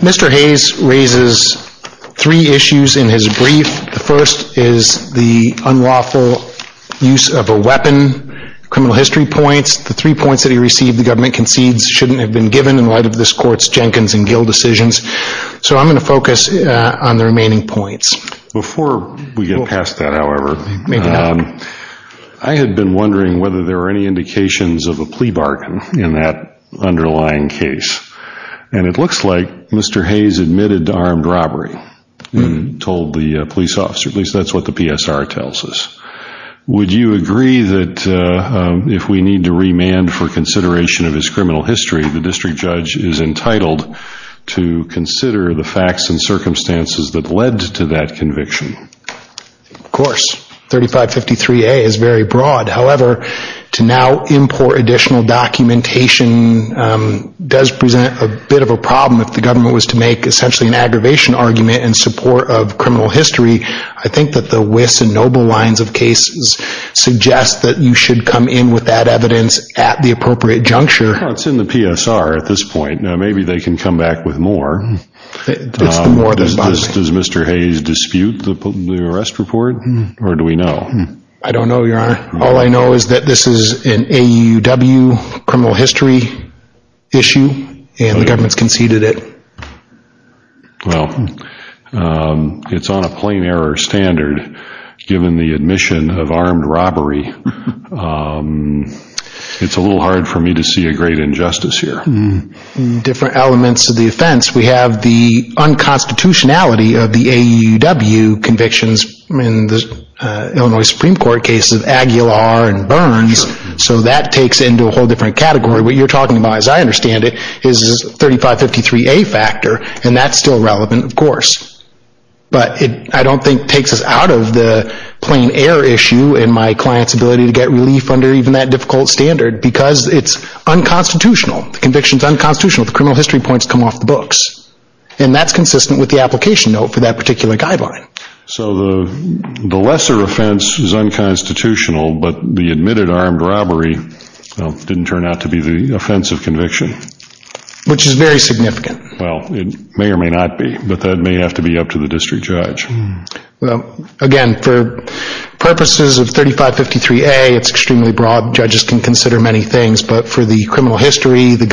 Mr. Hayes raises three issues in his brief. The first is the unlawful use of a weapon, criminal history points, the three points that he received the government concedes shouldn't have been given in light of this court's Jenkins and Gill decisions. So I'm going to focus on the remaining points. Before we get past that, however, I had been wondering whether there were any indications of a plea bargain in that underlying case. And it looks like Mr. Hayes admitted to armed robbery and told the police officer, at least that's what the PSR tells us. Would you agree that if we need to remand for consideration of his criminal history, the district judge is entitled to consider the facts and circumstances that led to that conviction? Cedric Hayes Of course, 3553A is very broad. However, to now import additional documentation does present a bit of a problem if the government was to make essentially an aggravation argument in support of criminal history. I think that the WIS and NOBLE lines of cases suggest that you should come in with that evidence at the appropriate juncture. It's in the PSR at this point. Now, maybe they can come back with more. Does Mr. Hayes dispute the arrest report or do we know? Cedric Hayes I don't know, Your Honor. All I know is that this is an AUW criminal history issue and the government has conceded it. Judge Goldberg Well, it's on a plain error standard given the admission of armed robbery. It's a little hard for me to see a great injustice here. Cedric Hayes Different elements of the offense. We have the unconstitutionality of the AUW convictions in the Illinois Supreme Court cases of Aguilar and Burns. So that takes into a whole different category. What you're talking about, as I understand it, is 3553A factor and that's still relevant, of course. But I don't think it takes us out of the plain error issue and my client's ability to get relief under even that difficult standard because it's unconstitutional. The conviction is unconstitutional. The criminal history points come off the books. And that's consistent with the application note for that particular guideline. Judge Goldberg So the lesser offense is unconstitutional, but the admitted armed robbery didn't turn out to be the offensive conviction. Cedric Hayes Which is very significant. Judge Goldberg Well, it may or may not be, but that may have to be up to the district judge. Cedric Hayes Well, again, for purposes of 3553A, it's extremely broad. Judges can consider many things. But for the criminal history, the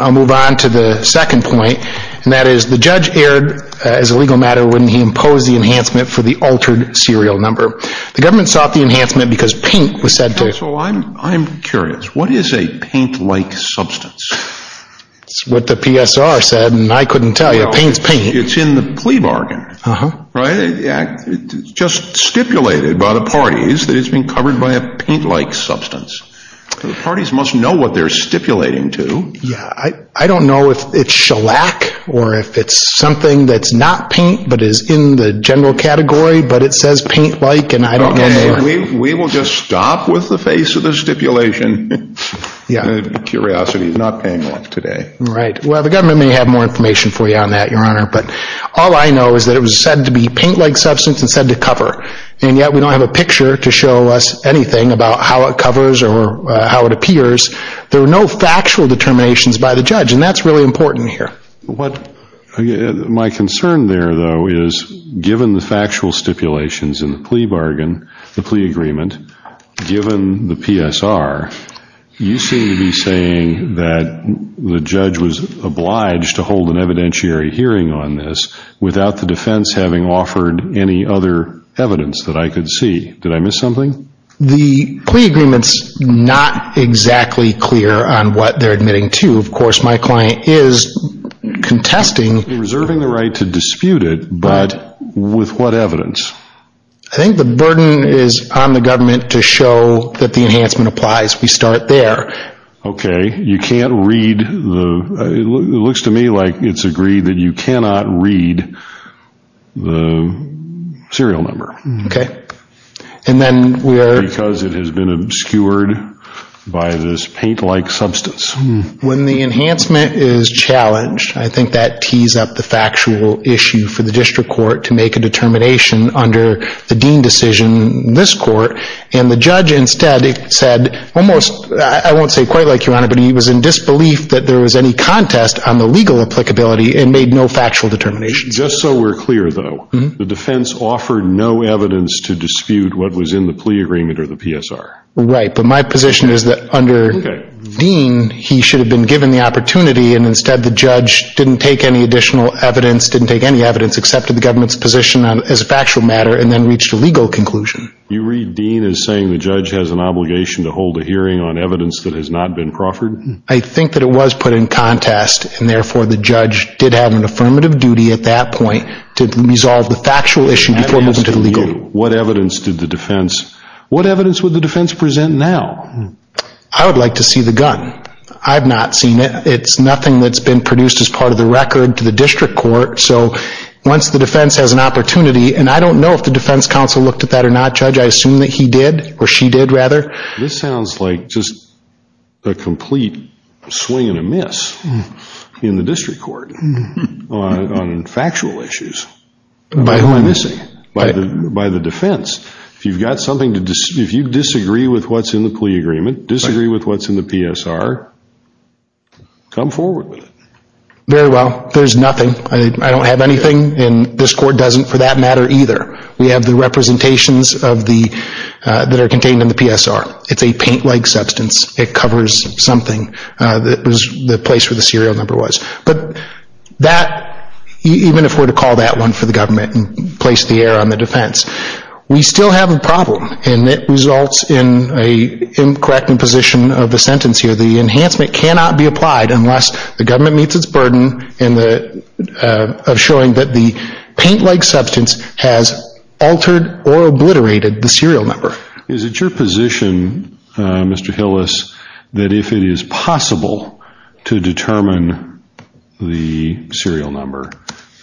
I'll move on to the second point, and that is the judge erred as a legal matter when he imposed the enhancement for the altered serial number. The government sought the enhancement because paint was said to Judge Goldberg So I'm curious. What is a paint-like substance? Cedric Hayes It's what the PSR said, and I couldn't tell you. It paints paint. Judge Goldberg It's in the plea bargain, right? It's just stipulated by the parties that it's been covered by a paint-like substance. The parties must know what they're stipulating to. Cedric Hayes I don't know if it's shellac or if it's something that's not paint but is in the general category, but it says paint-like, and I don't know. Judge Goldberg Okay, we will just stop with the face of the stipulation. Curiosity is not paying off today. Cedric Hayes Right. Well, the government may have more information for you on that, Your Honor. But all I know is that it was said to be paint-like substance and said to cover. And yet we don't have a picture to show us anything about how it covers or how it appears. There were no factual determinations by the judge, and that's really important here. Judge Goldberg My concern there, though, is given the factual stipulations in the plea bargain, the plea agreement, given the PSR, you seem to be saying that the judge was obliged to hold an evidentiary hearing on this without the defense having offered any other evidence that I could see. Did I miss something? Cedric Hayes The plea agreement's not exactly clear on what they're admitting to. Of course, my client is contesting. Judge Goldberg Reserving the right to dispute it, but with what evidence? Cedric Hayes I think the burden is on the government to show that the enhancement applies. We start there. Judge Goldberg Okay. You can't read the... It looks to me like it's agreed that you cannot read the serial number. Cedric Hayes Because it has been obscured by this paint-like substance. Judge Goldberg When the enhancement is challenged, I think that tees up the factual issue for the district court to make a determination under the Dean decision in this court, and the judge instead said almost, I won't say quite like Your Honor, but he was in disbelief that there was any contest on the legal applicability and made no factual determinations. Cedric Hayes Just so we're clear, though, the defense offered no evidence to dispute what was in the plea agreement or the PSR. Judge Goldberg Right, but my position is that under Dean, he should have been given the opportunity and instead the judge didn't take any additional evidence, didn't take any evidence, accepted the government's position as a factual matter and then reached a legal conclusion. Cedric Hayes You read Dean as saying the judge has an obligation to hold a hearing on evidence that has not been proffered? Judge Goldberg I think that it was put in contest, and therefore the judge did have an affirmative duty at that point to resolve the factual issue before moving to the legal. Cedric Hayes What evidence did the defense, what evidence would the defense present now? Judge Goldberg I would like to see the gun. I've not seen it. It's nothing that's been produced as part of the record to the district court, so once the defense has an opportunity, and I don't know if the defense counsel looked at that or not, Judge, I assume that he did, or she did rather. Cedric Hayes This sounds like just a complete swing and a miss in the district court on factual issues. By whom am I missing? By the defense. If you've got something to, if you disagree with what's in the plea agreement, disagree with what's in the PSR, come forward with it. Judge Goldberg Very well. There's nothing. I don't have anything, and this court doesn't for that matter either. We have the representations of the, that are contained in the PSR. It's a paint-like substance. It covers something that was the place where the serial number was, but that, even if we're to call that one for the government and place the error on the defense, we still have a problem, and it results in a incorrect imposition of the sentence here. The enhancement cannot be applied unless the government meets its burden in the, of showing that the paint-like substance has altered or obliterated the serial number. Is it your position, Mr. Hillis, that if it is possible to determine the serial number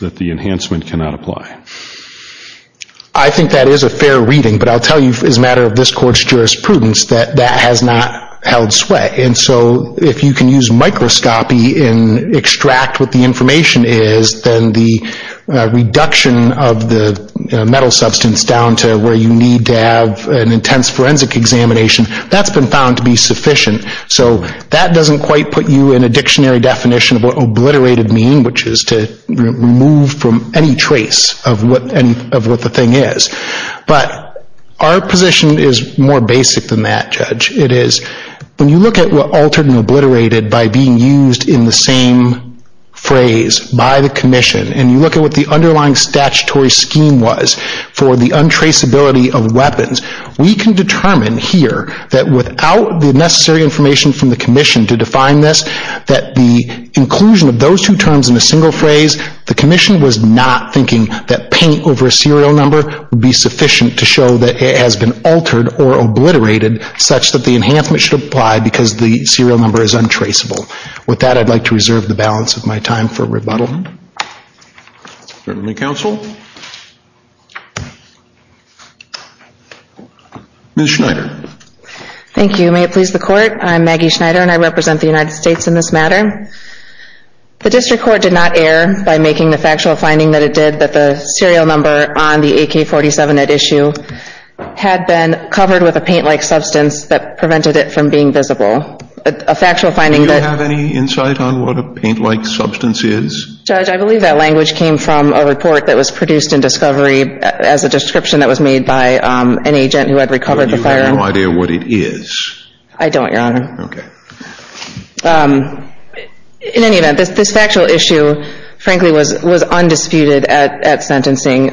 that the enhancement cannot apply? Judge Hillis I think that is a fair reading, but I'll tell you as a matter of this court's jurisprudence that that has not held sway, and so if you can use microscopy and extract what the information is, then the reduction of the metal substance down to where you need to have an intense forensic examination, that's been found to be sufficient. So that doesn't quite put you in a dictionary definition of what obliterated mean, which is to remove from any trace of what the thing is. But our position is more basic than that, Judge. It is, when you look at what altered and obliterated by being used in the same phrase by the commission, and you look at what the underlying statutory scheme was for the untraceability of weapons, we can determine here that without the necessary information from the commission to define this, that the inclusion of those two terms in a single phrase, the commission was not thinking that paint over a serial number would be sufficient to show that it has been altered or obliterated such that the enhancement should apply because the serial number is untraceable. With that, I'd like to reserve the balance of my time for rebuttal. Certainly, Counsel. Ms. Schneider. Thank you. May it please the Court, I'm Maggie Schneider, and I represent the United States in this matter. The District Court did not err by making the factual finding that it did that the serial number on the AK-47 at issue had been covered with a paint-like substance that prevented it from being visible. A factual finding that... Do you have any insight on what a paint-like substance is? Judge, I believe that language came from a report that was produced in Discovery as a description that was made by an agent who had recovered the firearm. You have no idea what it is? I don't, Your Honor. Okay. In any event, this factual issue, frankly, was undisputed at sentencing.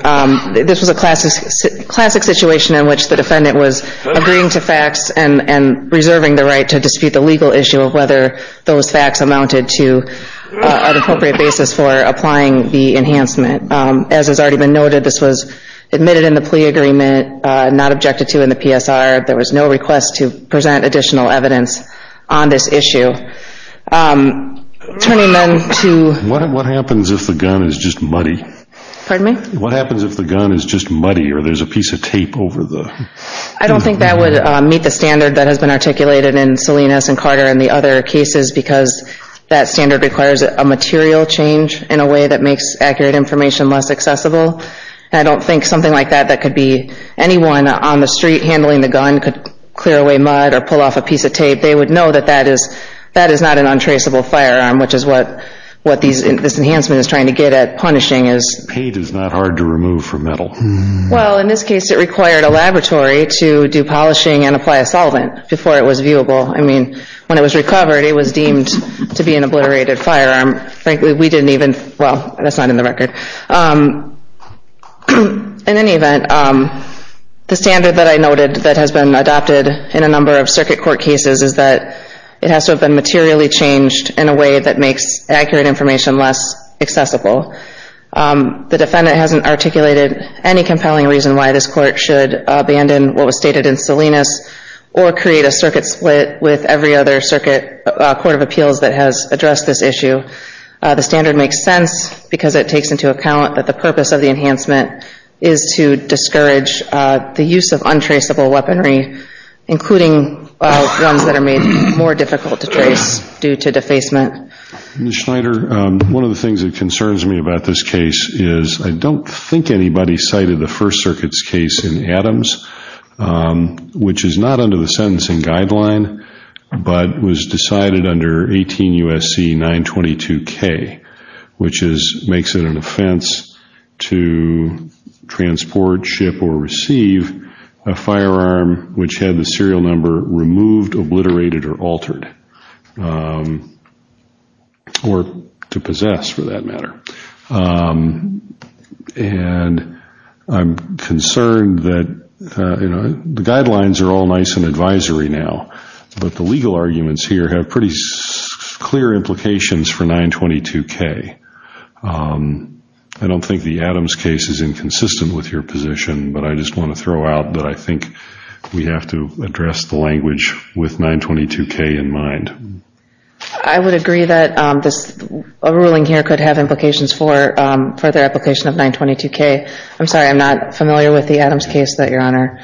This was a classic situation in which the defendant was agreeing to facts and reserving the right to dispute the legal issue of whether those facts amounted to an appropriate basis for applying the enhancement. As has already been noted, this was admitted in the plea agreement, not objected to in the PSR. There was no request to present additional evidence on this issue. Turning then to... What happens if the gun is just muddy? Pardon me? What happens if the gun is just muddy or there's a piece of tape over the... I don't think that would meet the standard that has been articulated in Salinas and Carter and the other cases because that standard requires a material change in a way that makes accurate information less accessible. I don't think something like that that could be anyone on the street handling the gun could clear away mud or pull off a piece of tape. They would know that that is not an untraceable firearm, which is what this enhancement is trying to get at, punishing is. Paint is not hard to remove from metal. Well, in this case, it required a laboratory to do polishing and apply a solvent before it was viewable. I mean, when it was recovered, it was deemed to be an obliterated firearm. Frankly, we didn't even... Well, that's not in the record. In any event, the standard that I noted that has been adopted in a number of circuit court cases is that it has to have been materially changed in a way that makes accurate information less accessible. The defendant hasn't articulated any compelling reason why this court should abandon what was stated in Salinas or create a circuit split with every other circuit court of appeals that has addressed this issue. The standard makes sense because it takes into account that the purpose of the enhancement is to discourage the use of untraceable weaponry, including ones that are made more difficult to trace due to defacement. Well, Ms. Schneider, one of the things that concerns me about this case is I don't think anybody cited the First Circuit's case in Adams, which is not under the sentencing guideline, but was decided under 18 U.S.C. 922K, which makes it an offense to transport, ship, or to possess, for that matter. I'm concerned that the guidelines are all nice in advisory now, but the legal arguments here have pretty clear implications for 922K. I don't think the Adams case is inconsistent with your position, but I just want to throw out that I think we have to address the language with 922K in mind. I would agree that a ruling here could have implications for further application of 922K. I'm sorry, I'm not familiar with the Adams case that Your Honor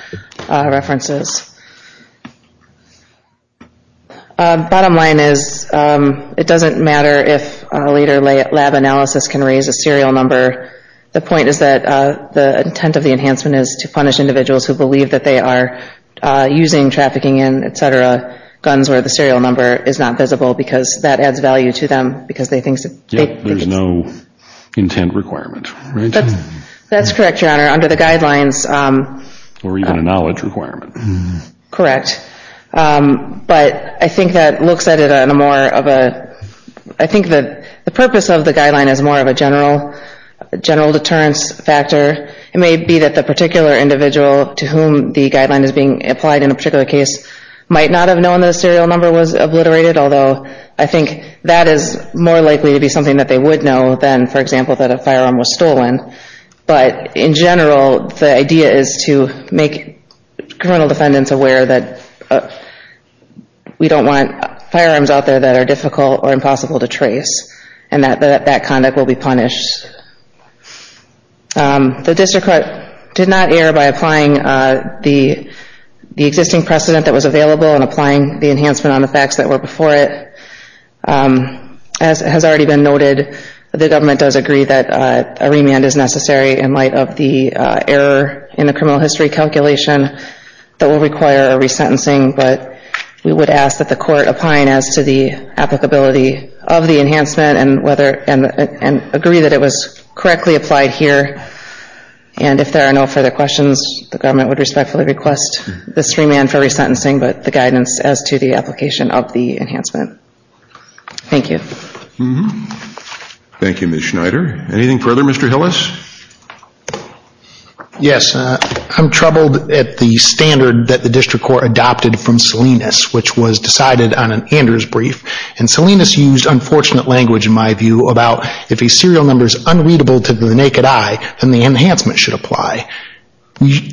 references. Bottom line is it doesn't matter if a later lab analysis can raise a serial number. The point is that the intent of the enhancement is to punish individuals who believe that they are using, trafficking in, et cetera, guns where the serial number is not visible because that adds value to them because they think it's... Yeah, there's no intent requirement, right? That's correct, Your Honor. Under the guidelines... Or even a knowledge requirement. Correct. But I think that looks at it in a more of a... I think the purpose of the guideline is more of a general deterrence factor. It may be that the particular individual to whom the guideline is being applied in a particular case might not have known that a serial number was obliterated, although I think that is more likely to be something that they would know than, for example, that a firearm was stolen. But in general, the idea is to make criminal defendants aware that we don't want firearms out there that are difficult or impossible to trace and that that conduct will be punished. The district court did not err by applying the existing precedent that was available and applying the enhancement on the facts that were before it. As has already been noted, the government does agree that a remand is necessary in light of the error in the criminal history calculation that will require a resentencing, but we would ask that the court opine as to the applicability of the enhancement and agree that it was correctly applied here. And if there are no further questions, the government would respectfully request this remand for resentencing, but the guidance as to the application of the enhancement. Thank you. Thank you, Ms. Schneider. Anything further? Mr. Hillis? Yes. I'm troubled at the standard that the district court adopted from Salinas, which was decided on an Anders brief. And Salinas used unfortunate language, in my view, about if a serial number is unreadable to the naked eye, then the enhancement should apply.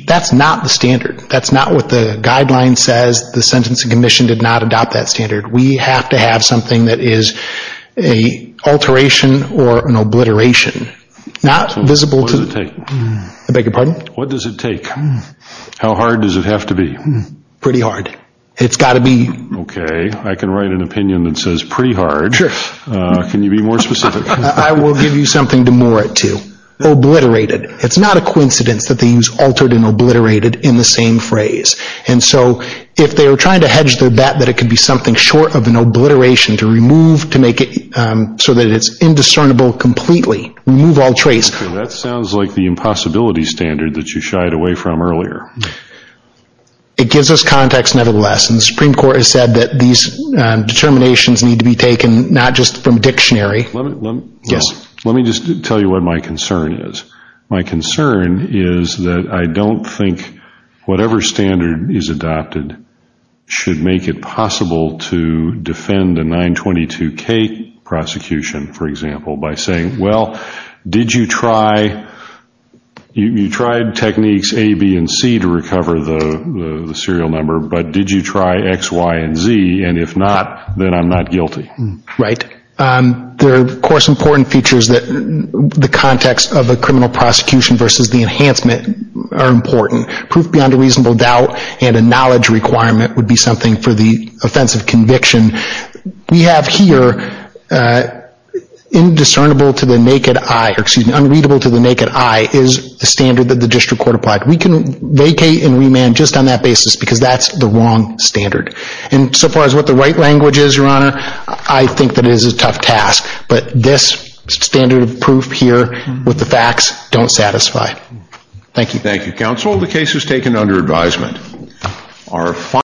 That's not the standard. That's not what the guideline says. The Sentencing Commission did not adopt that standard. We have to have something that is an alteration or an obliteration. Not visible to... What does it take? I beg your pardon? What does it take? How hard does it have to be? Pretty hard. It's got to be... Okay. I can write an opinion that says pretty hard. Sure. Can you be more specific? I will give you something to moor it to. Obliterated. It's not a coincidence that they use altered and obliterated in the same phrase. And so, if they were trying to hedge their bet that it could be something short of an obliteration to remove, to make it so that it's indiscernible completely, remove all trace... Okay. That sounds like the impossibility standard that you shied away from earlier. It gives us context, nevertheless, and the Supreme Court has said that these determinations need to be taken not just from dictionary. Yes. Let me just tell you what my concern is. My concern is that I don't think whatever standard is adopted should make it possible to defend a 922K prosecution, for example, by saying, well, did you try... You tried techniques A, B, and C to recover the serial number, but did you try X, Y, and Z? And if not, then I'm not guilty. Right. There are, of course, important features that the context of a criminal prosecution versus the enhancement are important. Proof beyond a reasonable doubt and a knowledge requirement would be something for the offense of conviction. We have here, indiscernible to the naked eye, or excuse me, unreadable to the naked eye is the standard that the district court applied. We can vacate and remand just on that basis because that's the wrong standard. And so far as what the right language is, Your Honor, I think that it is a tough task, but this standard of proof here with the facts don't satisfy. Thank you. Thank you, counsel. The case is taken under advisement.